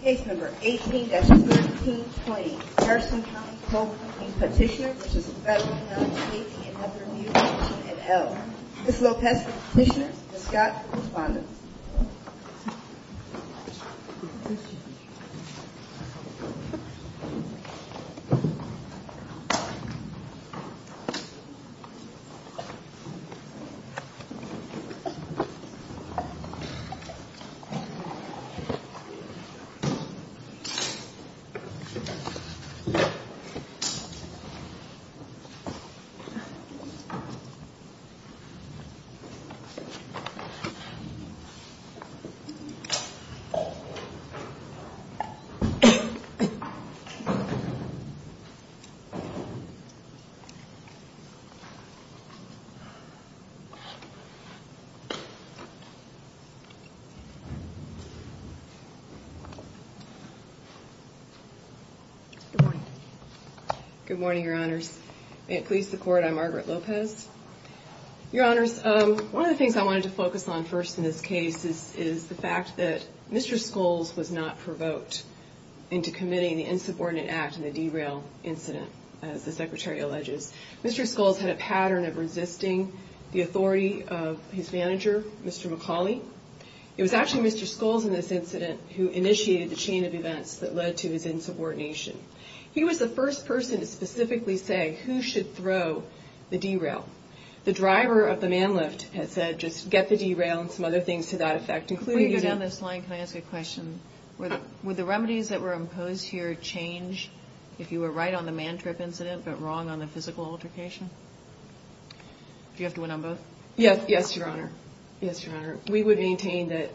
Case number 18-1320, Harrison County Co-Proving Petitioner, which is a federal non-stately independent review agency, NL. Ms. Lopez for the petitioner and Mr. Scott for the respondent. Case number 18-1320. Good morning. Good morning, Your Honors. May it please the Court, I'm Margaret Lopez. Your Honors, one of the things I wanted to focus on first in this case is the fact that Mr. Scholes was not provoked into committing the insubordinate act in the derail incident, as the Secretary alleges. Mr. Scholes had a pattern of resisting the authority of his manager, Mr. McCauley. It was actually Mr. Scholes in this incident who initiated the chain of events that led to his insubordination. He was the first person to specifically say who should throw the derail. The driver of the man lift had said just get the derail and some other things to that effect, including... Before you go down this line, can I ask a question? Would the remedies that were imposed here change if you were right on the man trip incident, but wrong on the physical altercation? Do you have to went on both? Yes, Your Honor. Yes, Your Honor. We would maintain that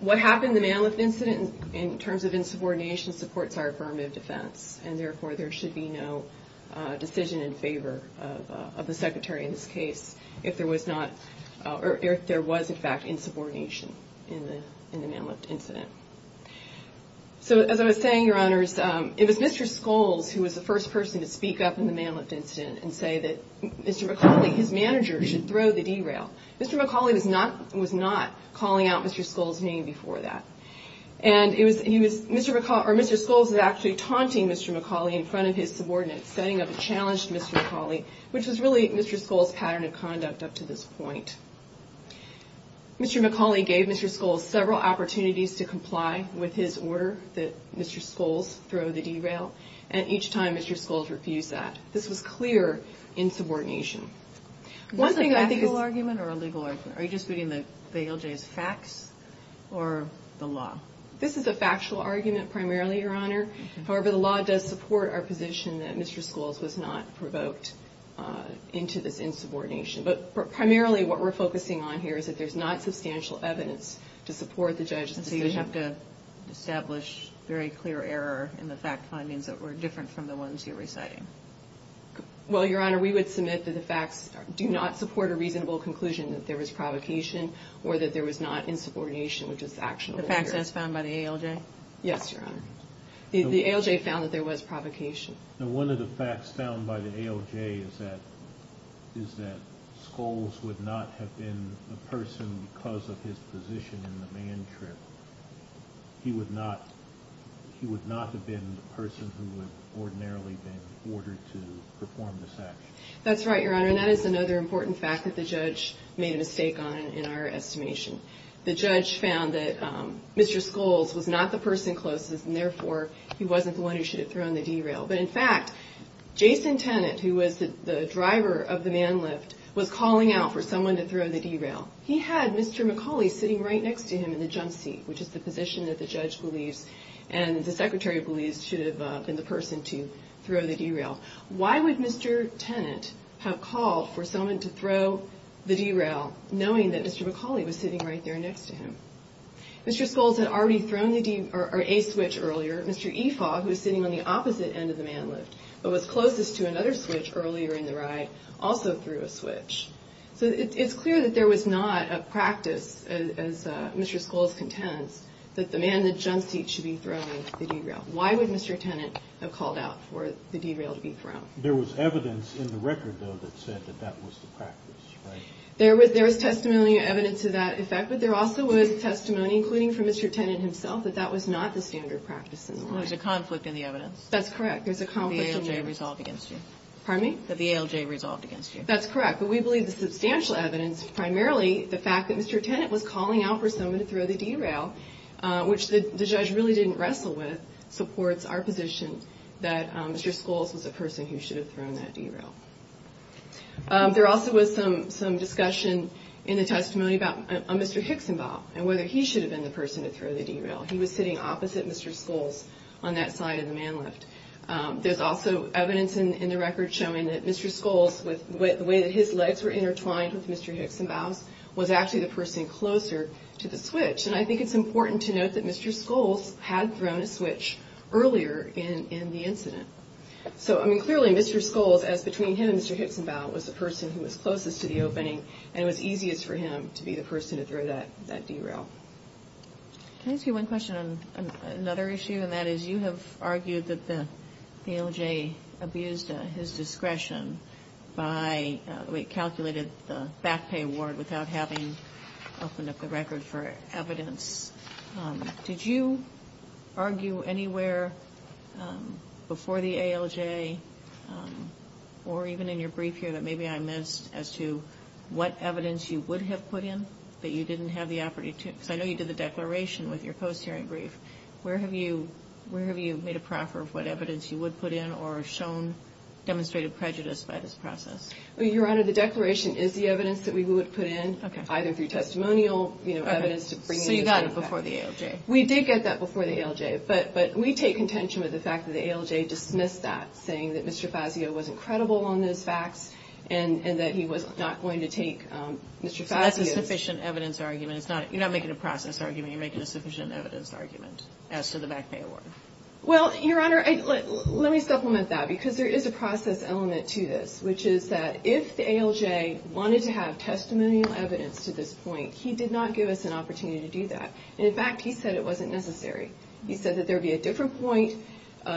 what happened in the man lift incident in terms of insubordination supports our affirmative defense, and therefore there should be no decision in favor of the Secretary in this case if there was not... or if there was, in fact, insubordination in the man lift incident. So as I was saying, Your Honors, it was Mr. Scholes who was the first person to speak up in the man lift incident and say that Mr. McAuley, his manager, should throw the derail. Mr. McAuley was not calling out Mr. Scholes' name before that, and Mr. Scholes was actually taunting Mr. McAuley in front of his subordinates, setting up a challenge to Mr. McAuley, which was really Mr. Scholes' pattern of conduct up to this point. Mr. McAuley gave Mr. Scholes several opportunities to comply with his order that Mr. Scholes throw the derail, and each time Mr. Scholes refused that. This was clear insubordination. Was it an actual argument or a legal argument? Are you just reading the ALJ's facts or the law? This is a factual argument primarily, Your Honor. However, the law does support our position that Mr. Scholes was not provoked into this insubordination. But primarily what we're focusing on here is that there's not substantial evidence to support the judge's decision. We have to establish very clear error in the fact findings that were different from the ones you're reciting. Well, Your Honor, we would submit that the facts do not support a reasonable conclusion that there was provocation or that there was not insubordination, which is actionable here. The facts as found by the ALJ? Yes, Your Honor. The ALJ found that there was provocation. And one of the facts found by the ALJ is that Scholes would not have been the person because of his position in the man trip. He would not have been the person who would ordinarily have been ordered to perform this action. That's right, Your Honor, and that is another important fact that the judge made a mistake on in our estimation. The judge found that Mr. Scholes was not the person closest, and therefore he wasn't the one who should have thrown the D-rail. But in fact, Jason Tennant, who was the driver of the man lift, was calling out for someone to throw the D-rail. He had Mr. McCauley sitting right next to him in the jump seat, which is the position that the judge believes and the secretary believes should have been the person to throw the D-rail. Why would Mr. Tennant have called for someone to throw the D-rail, knowing that Mr. McCauley was sitting right there next to him? Mr. Scholes had already thrown a switch earlier. Mr. Ifaw, who was sitting on the opposite end of the man lift, but was closest to another switch earlier in the ride, also threw a switch. So it's clear that there was not a practice, as Mr. Scholes contends, that the man in the jump seat should be throwing the D-rail. Why would Mr. Tennant have called out for the D-rail to be thrown? There was evidence in the record, though, that said that that was the practice, right? There was testimony and evidence to that effect, but there also was testimony, including from Mr. Tennant himself, that that was not the standard practice in the ride. There's a conflict in the evidence. That's correct. There's a conflict in the evidence. That the ALJ resolved against you. Pardon me? That the ALJ resolved against you. That's correct. But we believe the substantial evidence, primarily the fact that Mr. Tennant was calling out for someone to throw the D-rail, which the judge really didn't wrestle with, supports our position that Mr. Scholes was the person who should have thrown that D-rail. There also was some discussion in the testimony about Mr. Hixenbaugh and whether he should have been the person to throw the D-rail. He was sitting opposite Mr. Scholes on that side of the man lift. There's also evidence in the record showing that Mr. Scholes, the way that his legs were intertwined with Mr. Hixenbaugh's, was actually the person closer to the switch. And I think it's important to note that Mr. Scholes had thrown a switch earlier in the incident. So, I mean, clearly Mr. Scholes, as between him and Mr. Hixenbaugh, was the person who was closest to the opening, and it was easiest for him to be the person to throw that D-rail. Can I ask you one question on another issue? And that is you have argued that the ALJ abused his discretion by the way it calculated the back pay award without having opened up the record for evidence. Did you argue anywhere before the ALJ, or even in your brief here that maybe I missed, as to what evidence you would have put in that you didn't have the authority to? Because I know you did the declaration with your post-hearing brief. Where have you made a proffer of what evidence you would put in or shown demonstrated prejudice by this process? Your Honor, the declaration is the evidence that we would put in, either through testimonial evidence, So you got it before the ALJ. We did get that before the ALJ. But we take contention with the fact that the ALJ dismissed that, saying that Mr. Fazio wasn't credible on those facts and that he was not going to take Mr. Fazio's So that's a sufficient evidence argument. You're not making a process argument. You're making a sufficient evidence argument as to the back pay award. Well, Your Honor, let me supplement that because there is a process element to this, which is that if the ALJ wanted to have testimonial evidence to this point, he did not give us an opportunity to do that. And, in fact, he said it wasn't necessary. He said that there would be a different point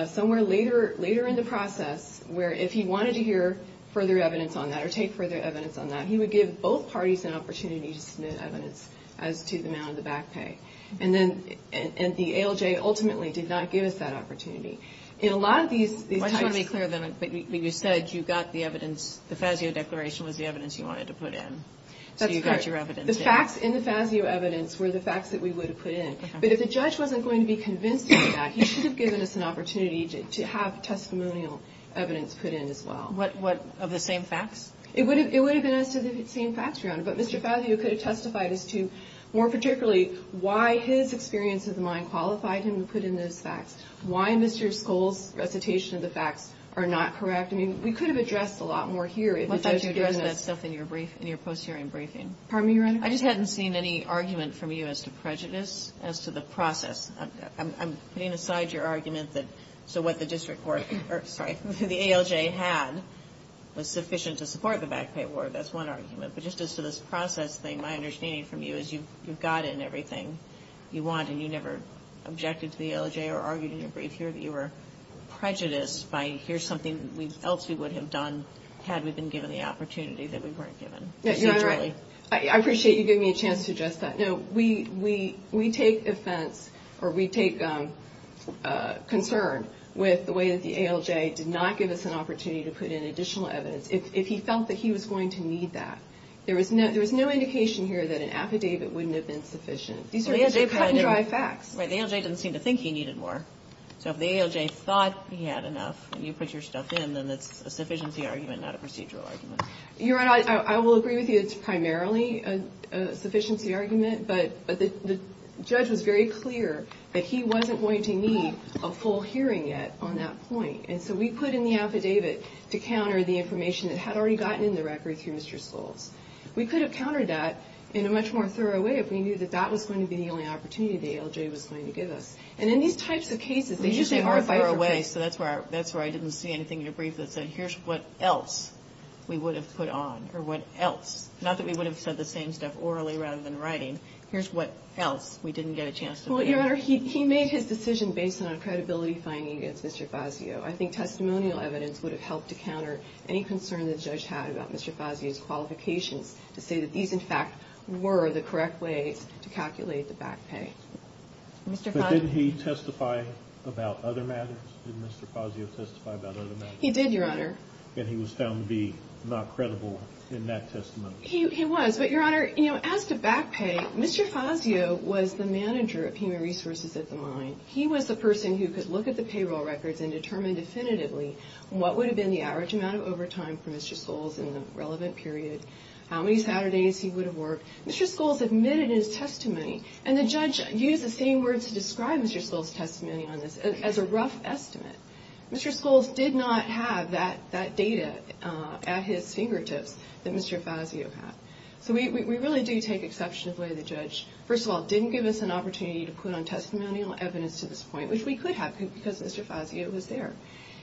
somewhere later in the process where if he wanted to hear further evidence on that or take further evidence on that, he would give both parties an opportunity to submit evidence as to the amount of the back pay. And then the ALJ ultimately did not give us that opportunity. In a lot of these types Well, I just want to be clear then. You said you got the evidence, the Fazio declaration was the evidence you wanted to put in. That's correct. The facts in the Fazio evidence were the facts that we would have put in. But if the judge wasn't going to be convinced of that, he should have given us an opportunity to have testimonial evidence put in as well. Of the same facts? It would have been as to the same facts, Your Honor. But Mr. Fazio could have testified as to, more particularly, why his experience of the mine qualified him to put in those facts, why Mr. Skoll's recitation of the facts are not correct. I mean, we could have addressed a lot more here if the judge had given us in your post-hearing briefing. Pardon me, Your Honor? I just hadn't seen any argument from you as to prejudice, as to the process. I'm putting aside your argument that so what the district court or, sorry, the ALJ had was sufficient to support the back pay award. That's one argument. But just as to this process thing, my understanding from you is you've got in everything you want and you never objected to the ALJ or argued in your brief here that you were prejudiced by here's something else we would have done had we been given the opportunity that we weren't given procedurally. Your Honor, I appreciate you giving me a chance to address that. No, we take offense or we take concern with the way that the ALJ did not give us an opportunity to put in additional evidence if he felt that he was going to need that. There was no indication here that an affidavit wouldn't have been sufficient. These are cut-and-dry facts. Right, the ALJ didn't seem to think he needed more. So if the ALJ thought he had enough and you put your stuff in, then it's a sufficiency argument, not a procedural argument. Your Honor, I will agree with you it's primarily a sufficiency argument, but the judge was very clear that he wasn't going to need a full hearing yet on that point. And so we put in the affidavit to counter the information that had already gotten in the record through Mr. Schultz. We could have countered that in a much more thorough way if we knew that that was going to be the only opportunity the ALJ was going to give us. And in these types of cases, they usually are bifurcated. Okay. So that's where I didn't see anything in your brief that said, here's what else we would have put on, or what else. Not that we would have said the same stuff orally rather than writing. Here's what else we didn't get a chance to put on. Well, Your Honor, he made his decision based on credibility finding against Mr. Fazio. I think testimonial evidence would have helped to counter any concern the judge had about Mr. Fazio's qualifications to say that these, in fact, were the correct ways to calculate the back pay. But didn't he testify about other matters? Did Mr. Fazio testify about other matters? He did, Your Honor. And he was found to be not credible in that testimony? He was. But, Your Honor, you know, as to back pay, Mr. Fazio was the manager of human resources at the mine. He was the person who could look at the payroll records and determine definitively what would have been the average amount of overtime for Mr. Schultz in the relevant period, how many Saturdays he would have worked. Mr. Schultz admitted in his testimony, and the judge used the same words to describe Mr. Schultz's testimony on this as a rough estimate. Mr. Schultz did not have that data at his fingertips that Mr. Fazio had. So we really do take exception of the way the judge, first of all, didn't give us an opportunity to put on testimonial evidence to this point, which we could have because Mr. Fazio was there.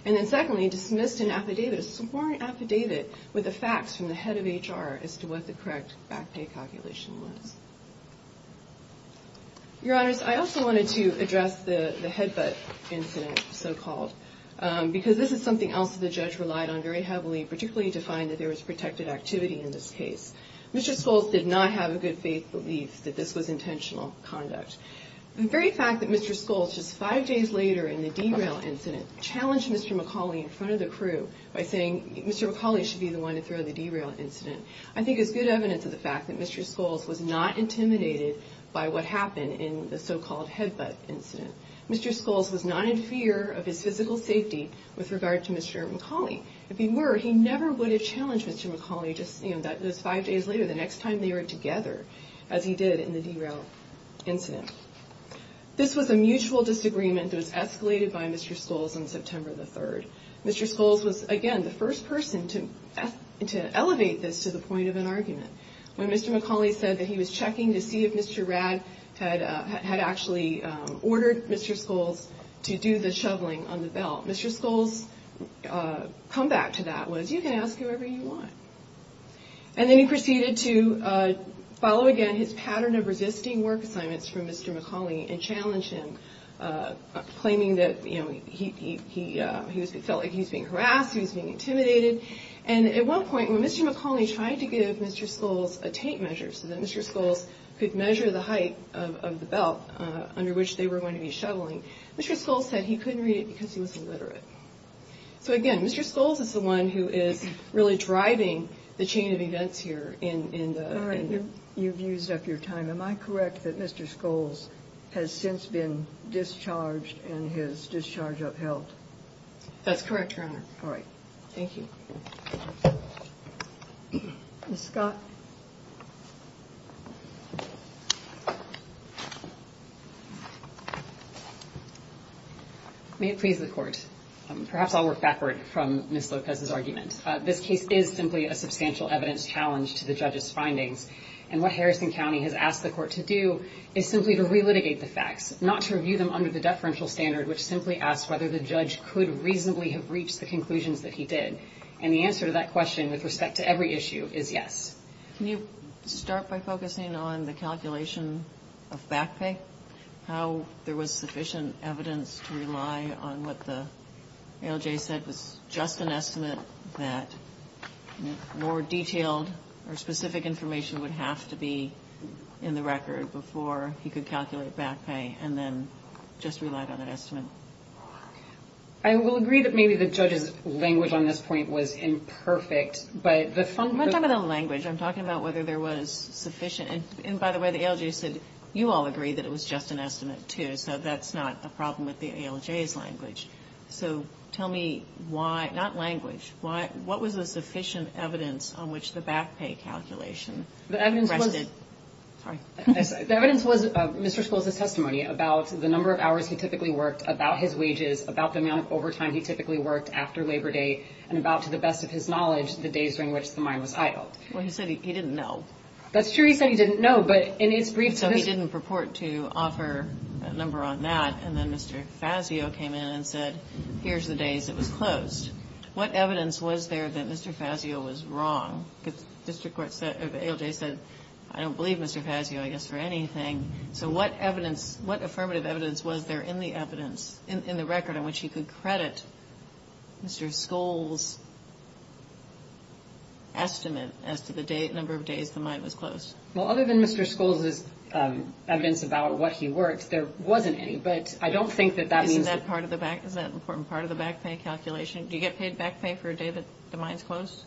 And then, secondly, dismissed an affidavit, a sworn affidavit, with the facts from the head of HR as to what the correct back pay calculation was. Your Honors, I also wanted to address the headbutt incident, so-called, because this is something else that the judge relied on very heavily, particularly to find that there was protected activity in this case. Mr. Schultz did not have a good faith belief that this was intentional conduct. The very fact that Mr. Schultz, just five days later in the derail incident, challenged Mr. McCauley in front of the crew by saying, Mr. McCauley should be the one to throw the derail incident, I think is good evidence of the fact that Mr. Schultz was not intimidated by what happened in the so-called headbutt incident. Mr. Schultz was not in fear of his physical safety with regard to Mr. McCauley. If he were, he never would have challenged Mr. McCauley, just, you know, those five days later, the next time they were together, as he did in the derail incident. This was a mutual disagreement that was escalated by Mr. Schultz on September the 3rd. Mr. Schultz was, again, the first person to elevate this to the point of an argument. When Mr. McCauley said that he was checking to see if Mr. Rad had actually ordered Mr. Schultz to do the shoveling on the belt, Mr. Schultz's comeback to that was, you can ask whoever you want. And then he proceeded to follow, again, his pattern of resisting work assignments from Mr. McCauley and challenge him, claiming that, you know, he felt like he was being harassed, he was being intimidated. And at one point, when Mr. McCauley tried to give Mr. Schultz a tape measure so that Mr. Schultz could measure the height of the belt under which they were going to be shoveling, Mr. Schultz said he couldn't read it because he was illiterate. So, again, Mr. Schultz is the one who is really driving the chain of events here. In the end, you've used up your time. Am I correct that Mr. Schultz has since been discharged and his discharge upheld? That's correct, Your Honor. All right. Thank you. Ms. Scott. May it please the Court. Perhaps I'll work backward from Ms. Lopez's argument. This case is simply a substantial evidence challenge to the judge's findings. And what Harrison County has asked the Court to do is simply to relitigate the facts, not to review them under the deferential standard, which simply asks whether the judge could reasonably have reached the conclusions that he did. And the answer to that question, with respect to every issue, is yes. Can you start by focusing on the calculation of back pay, how there was sufficient evidence to rely on what the ALJ said was just an estimate that more detailed or specific information would have to be in the record before he could calculate back pay and then just relied on an estimate? I will agree that maybe the judge's language on this point was imperfect. But the fundamental language I'm talking about whether there was sufficient and, by the way, the ALJ said you all agree that it was just an estimate, too, so that's not a problem with the ALJ's language. So tell me why, not language, what was the sufficient evidence on which the back pay calculation rested? The evidence was Mr. Scholes' testimony about the number of hours he typically worked, about his wages, about the amount of overtime he typically worked after Labor Day, and about, to the best of his knowledge, the days during which the mine was idled. Well, he said he didn't know. That's true, he said he didn't know, but in his brief testimony... So he didn't purport to offer a number on that, and then Mr. Fazio came in and said, here's the days it was closed. What evidence was there that Mr. Fazio was wrong? Because the district court said, or the ALJ said, I don't believe Mr. Fazio, I guess, for anything. So what evidence, what affirmative evidence was there in the evidence, as to the number of days the mine was closed? Well, other than Mr. Scholes' evidence about what he worked, there wasn't any, but I don't think that that means... Isn't that part of the back, is that an important part of the back pay calculation? Do you get paid back pay for a day that the mine's closed?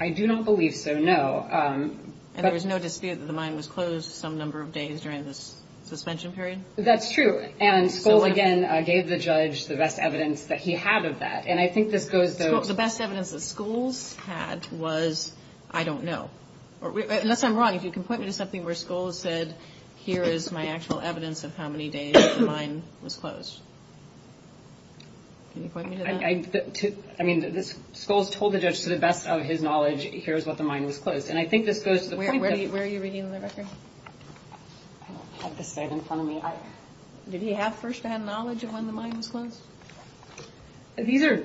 I do not believe so, no. And there was no dispute that the mine was closed some number of days during the suspension period? That's true, and Scholes, again, gave the judge the best evidence that he had of that, and I think this goes to... The best evidence that Scholes had was, I don't know. Unless I'm wrong, if you can point me to something where Scholes said, here is my actual evidence of how many days the mine was closed. Can you point me to that? I mean, Scholes told the judge to the best of his knowledge, here's what the mine was closed, and I think this goes to the point that... Where are you reading the record? I don't have this side in front of me. Did he have firsthand knowledge of when the mine was closed? These are...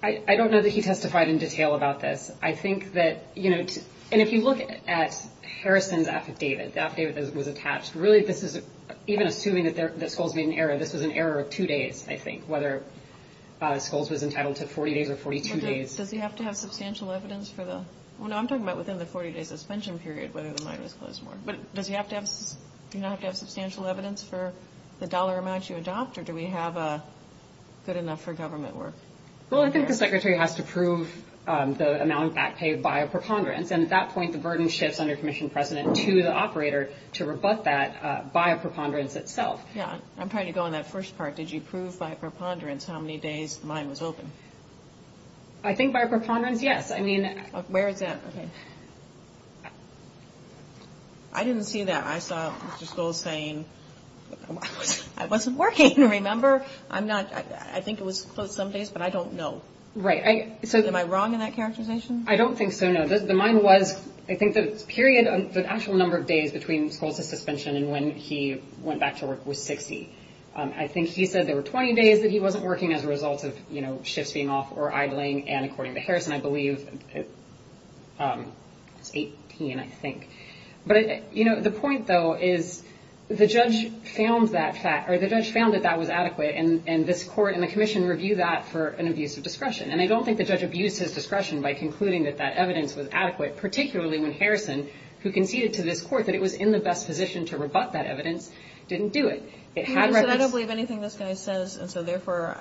I don't know that he testified in detail about this. I think that, you know, and if you look at Harrison's affidavit, the affidavit that was attached, really this is, even assuming that Scholes made an error, this was an error of two days, I think, whether Scholes was entitled to 40 days or 42 days. Does he have to have substantial evidence for the... Well, no, I'm talking about within the 40-day suspension period, whether the mine was closed or not. But does he have to have substantial evidence for the dollar amount you adopt, or do we have good enough for government work? Well, I think the secretary has to prove the amount of back pay by a preponderance, and at that point the burden shifts under commission precedent to the operator to rebut that by a preponderance itself. Yeah, I'm trying to go on that first part. Did you prove by a preponderance how many days the mine was open? I think by a preponderance, yes. I mean... Where is that? Okay. I didn't see that. I saw Mr. Scholes saying, I wasn't working, remember? I think it was closed some days, but I don't know. Right. Am I wrong in that characterization? I don't think so, no. The mine was, I think the period, the actual number of days between Scholes' suspension and when he went back to work was 60. I think he said there were 20 days that he wasn't working as a result of shifts being off or idling, and according to Harrison, I believe, it was 18, I think. But, you know, the point, though, is the judge found that that was adequate, and this court and the commission reviewed that for an abuse of discretion. And I don't think the judge abused his discretion by concluding that that evidence was adequate, particularly when Harrison, who conceded to this court that it was in the best position to rebut that evidence, didn't do it. I don't believe anything this guy says, and so therefore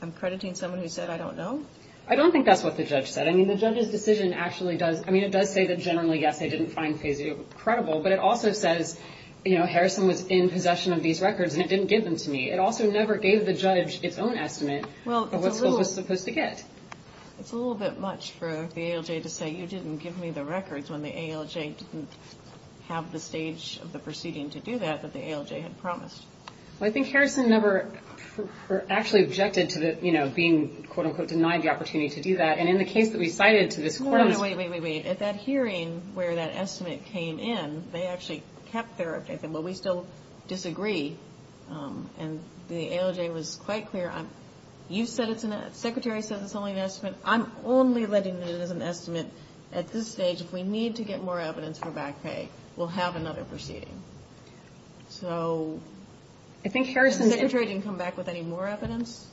I'm crediting someone who said I don't know. I don't think that's what the judge said. I mean, the judge's decision actually does, I mean, it does say that generally, yes, they didn't find Fazio credible, but it also says, you know, Harrison was in possession of these records and it didn't give them to me. It also never gave the judge its own estimate of what Scholes was supposed to get. Well, it's a little bit much for the ALJ to say you didn't give me the records when the ALJ didn't have the stage of the proceeding to do that that the ALJ had promised. Well, I think Harrison never actually objected to the, you know, being, quote, unquote, denied the opportunity to do that, and in the case that we cited to this court. No, no, wait, wait, wait, wait. At that hearing where that estimate came in, they actually kept their opinion. Well, we still disagree, and the ALJ was quite clear. You said it's an estimate. The Secretary said it's only an estimate. I'm only letting it as an estimate at this stage. If we need to get more evidence for back pay, we'll have another proceeding. So the Secretary didn't come back with any more evidence?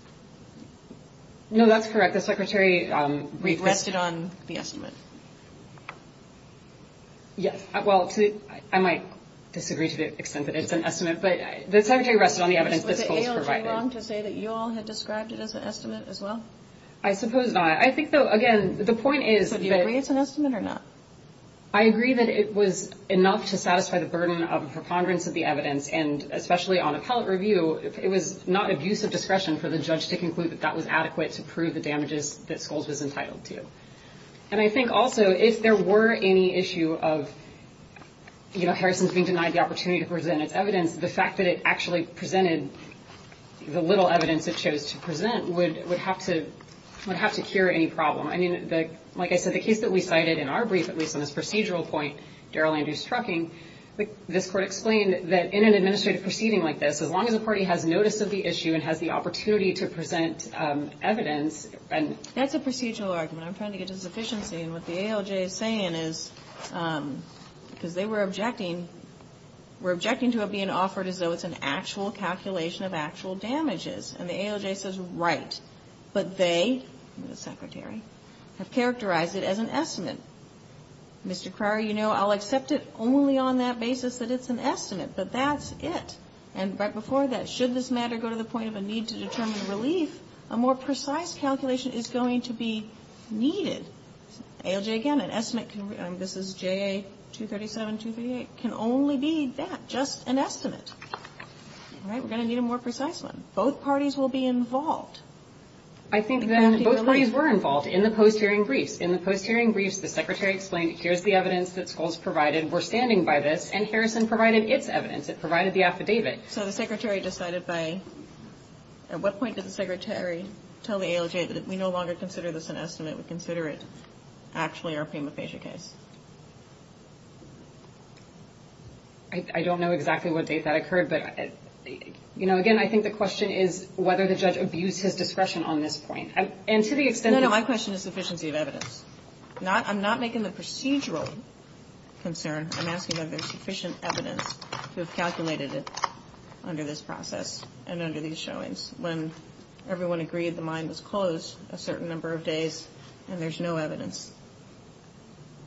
No, that's correct. The Secretary rested on the estimate. Yes. Well, I might disagree to the extent that it's an estimate, but the Secretary rested on the evidence that Scholes provided. Was the ALJ wrong to say that you all had described it as an estimate as well? I suppose not. I think, though, again, the point is that... So do you agree it's an estimate or not? I agree that it was enough to satisfy the burden of a preponderance of the evidence, and especially on appellate review, it was not of use of discretion for the judge to conclude that that was adequate to prove the damages that Scholes was entitled to. And I think also if there were any issue of Harrison being denied the opportunity to present its evidence, the fact that it actually presented the little evidence it chose to present would have to cure any problem. I mean, like I said, the case that we cited in our brief, at least on this procedural point, Darrell Andrews' trucking, this Court explained that in an administrative proceeding like this, as long as a party has notice of the issue and has the opportunity to present evidence and... That's a procedural argument. I'm trying to get to sufficiency. And what the ALJ is saying is because they were objecting, were objecting to it being offered as though it's an actual calculation of actual damages. And the ALJ says, right. But they, the Secretary, have characterized it as an estimate. Mr. Cryer, you know, I'll accept it only on that basis that it's an estimate. But that's it. And right before that, should this matter go to the point of a need to determine relief, a more precise calculation is going to be needed. ALJ, again, an estimate can be... This is JA 237, 238. It can only be that, just an estimate. All right. We're going to need a more precise one. Both parties will be involved. In crafting relief. I think then both parties were involved in the post-hearing briefs. In the post-hearing briefs, the Secretary explained, here's the evidence that Scholes provided. We're standing by this. And Harrison provided its evidence. It provided the affidavit. So the Secretary decided by... At what point did the Secretary tell the ALJ that if we no longer consider this an estimate, we consider it actually our prima facie case? I don't know exactly what date that occurred. But, you know, again, I think the question is whether the judge abused his discretion on this point. And to the extent... My question is sufficiency of evidence. I'm not making the procedural concern. I'm asking whether there's sufficient evidence to have calculated it under this process and under these showings when everyone agreed the mine was closed a certain number of days and there's no evidence,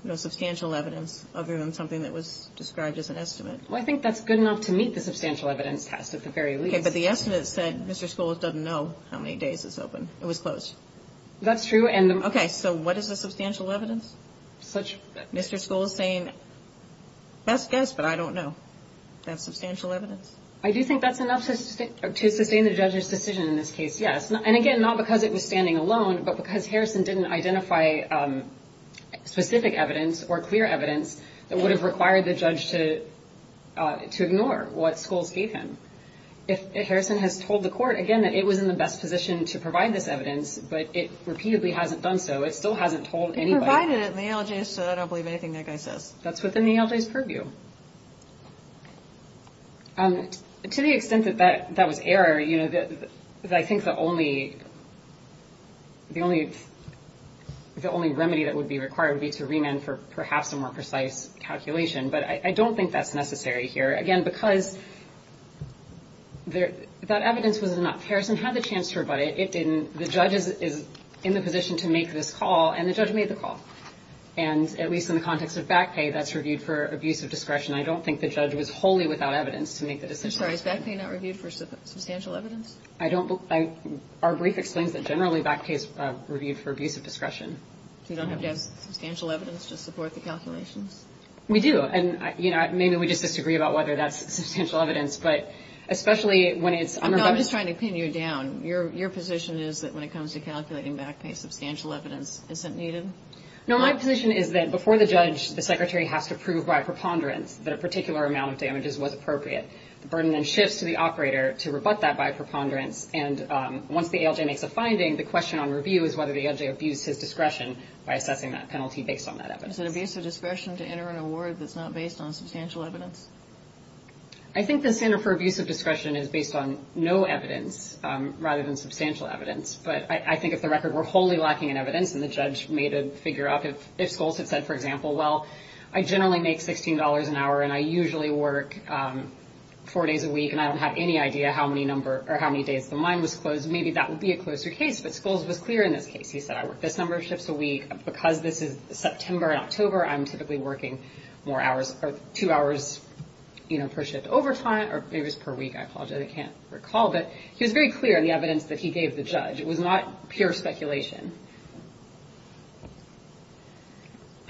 no substantial evidence other than something that was described as an estimate. Well, I think that's good enough to meet the substantial evidence test at the very least. Okay, but the estimate said Mr. Scholes doesn't know how many days it's open. It was closed. That's true. Okay, so what is the substantial evidence? Mr. Scholes saying, best guess, but I don't know. Is that substantial evidence? I do think that's enough to sustain the judge's decision in this case, yes. And, again, not because it was standing alone, but because Harrison didn't identify specific evidence or clear evidence that would have required the judge to ignore what Scholes gave him. If Harrison has told the court, again, that it was in the best position to provide this evidence, but it repeatedly hasn't done so, it still hasn't told anybody. It provided it in the ALJ, so I don't believe anything that guy says. That's within the ALJ's purview. To the extent that that was error, you know, I think the only remedy that would be required would be to remand for perhaps a more precise calculation, but I don't think that's necessary here. Again, because that evidence was enough. Harrison had the chance to rebut it. It didn't. The judge is in the position to make this call, and the judge made the call. And at least in the context of back pay, that's reviewed for abuse of discretion. I don't think the judge was wholly without evidence to make the decision. I'm sorry. Is back pay not reviewed for substantial evidence? Our brief explains that generally back pay is reviewed for abuse of discretion. So you don't have to have substantial evidence to support the calculations? We do. And, you know, maybe we just disagree about whether that's substantial evidence, but especially when it's unrebutted. No, I'm just trying to pin you down. Your position is that when it comes to calculating back pay, substantial evidence isn't needed? No, my position is that before the judge, the secretary has to prove by preponderance that a particular amount of damages was appropriate. The burden then shifts to the operator to rebut that by preponderance, and once the ALJ makes a finding, the question on review is whether the ALJ abused his discretion by assessing that penalty based on that evidence. Is it abuse of discretion to enter an award that's not based on substantial evidence? I think the standard for abuse of discretion is based on no evidence rather than substantial evidence. But I think if the record were wholly lacking in evidence and the judge made a figure up, if Scholes had said, for example, well, I generally make $16 an hour and I usually work four days a week and I don't have any idea how many days the mine was closed, maybe that would be a closer case. But Scholes was clear in this case. He said, I work this number of shifts a week. Because this is September and October, I'm typically working more hours or two hours per shift overtime or maybe it was per week, I apologize, I can't recall. But he was very clear in the evidence that he gave the judge. It was not pure speculation.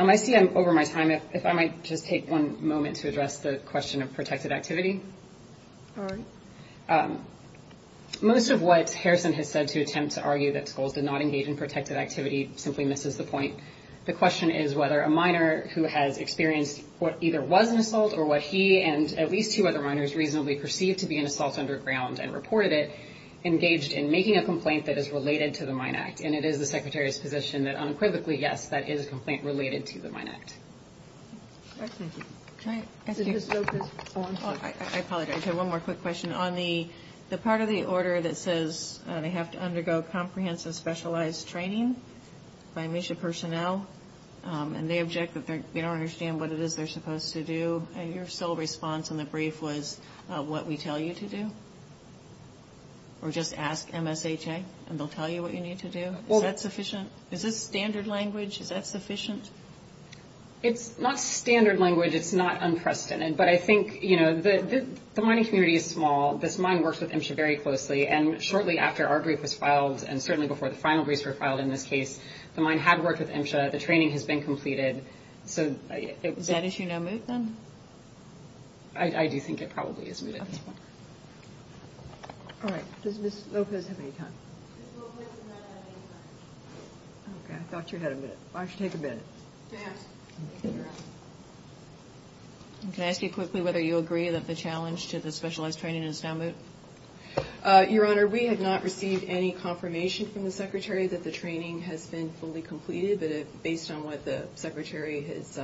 I see I'm over my time. If I might just take one moment to address the question of protective activity. Most of what Harrison has said to attempt to argue that Scholes did not engage in protective activity simply misses the point. The question is whether a miner who has experienced what either was an assault or what he and at least two other miners reasonably perceived to be an assault underground and reported it engaged in making a complaint that is related to the Mine Act. And it is the Secretary's position that unequivocally, yes, that is a complaint related to the Mine Act. I apologize. I have one more quick question. On the part of the order that says they have to undergo comprehensive specialized training by mission personnel and they object that they don't understand what it is they're supposed to do, and your sole response in the brief was what we tell you to do? Or just ask MSHA and they'll tell you what you need to do? Is that sufficient? Is this standard language? Is that sufficient? It's not standard language. It's not unprecedented. But I think, you know, the mining community is small. This mine works with MSHA very closely. And shortly after our brief was filed and certainly before the final briefs were filed in this case, the mine had worked with MSHA. The training has been completed. Is that issue now moved then? I do think it probably is moved at this point. All right. Does Ms. Lopez have any time? Ms. Lopez does not have any time. Okay. I thought you had a minute. Why don't you take a minute? Can I ask you quickly whether you agree that the challenge to the specialized training is now moved? Your Honor, we have not received any confirmation from the Secretary that the training has been fully completed. But based on what the Secretary has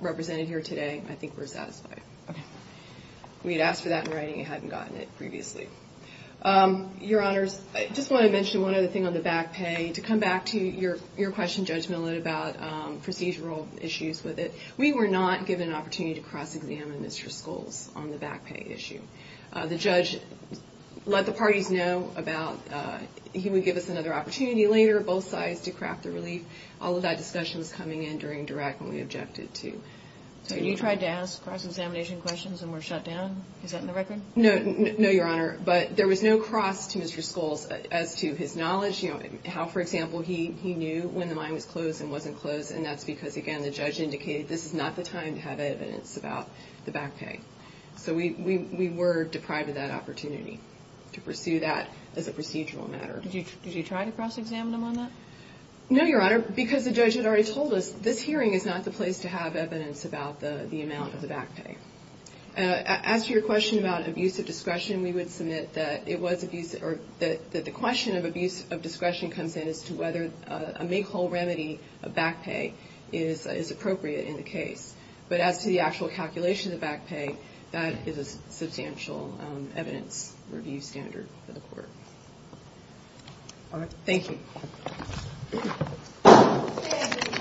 represented here today, I think we're satisfied. Okay. We had asked for that in writing and hadn't gotten it previously. Your Honors, I just want to mention one other thing on the back pay. To come back to your question, Judge Millett, about procedural issues with it, we were not given an opportunity to cross-examine Mr. Scholes on the back pay issue. The judge let the parties know about he would give us another opportunity later, both sides, to craft a relief. All of that discussion was coming in during direct when we objected to. So you tried to ask cross-examination questions and were shut down? Is that in the record? No, Your Honor, but there was no cross to Mr. Scholes as to his knowledge, how, for example, he knew when the mine was closed and wasn't closed, and that's because, again, the judge indicated this is not the time to have evidence about the back pay. So we were deprived of that opportunity to pursue that as a procedural matter. Did you try to cross-examine him on that? No, Your Honor, because the judge had already told us this hearing is not the place to have evidence about the amount of the back pay. As to your question about abuse of discretion, we would submit that it was abuse or that the question of abuse of discretion comes in as to whether a make-whole remedy of back pay is appropriate in the case. But as to the actual calculation of back pay, that is a substantial evidence review standard for the court. All right. Thank you.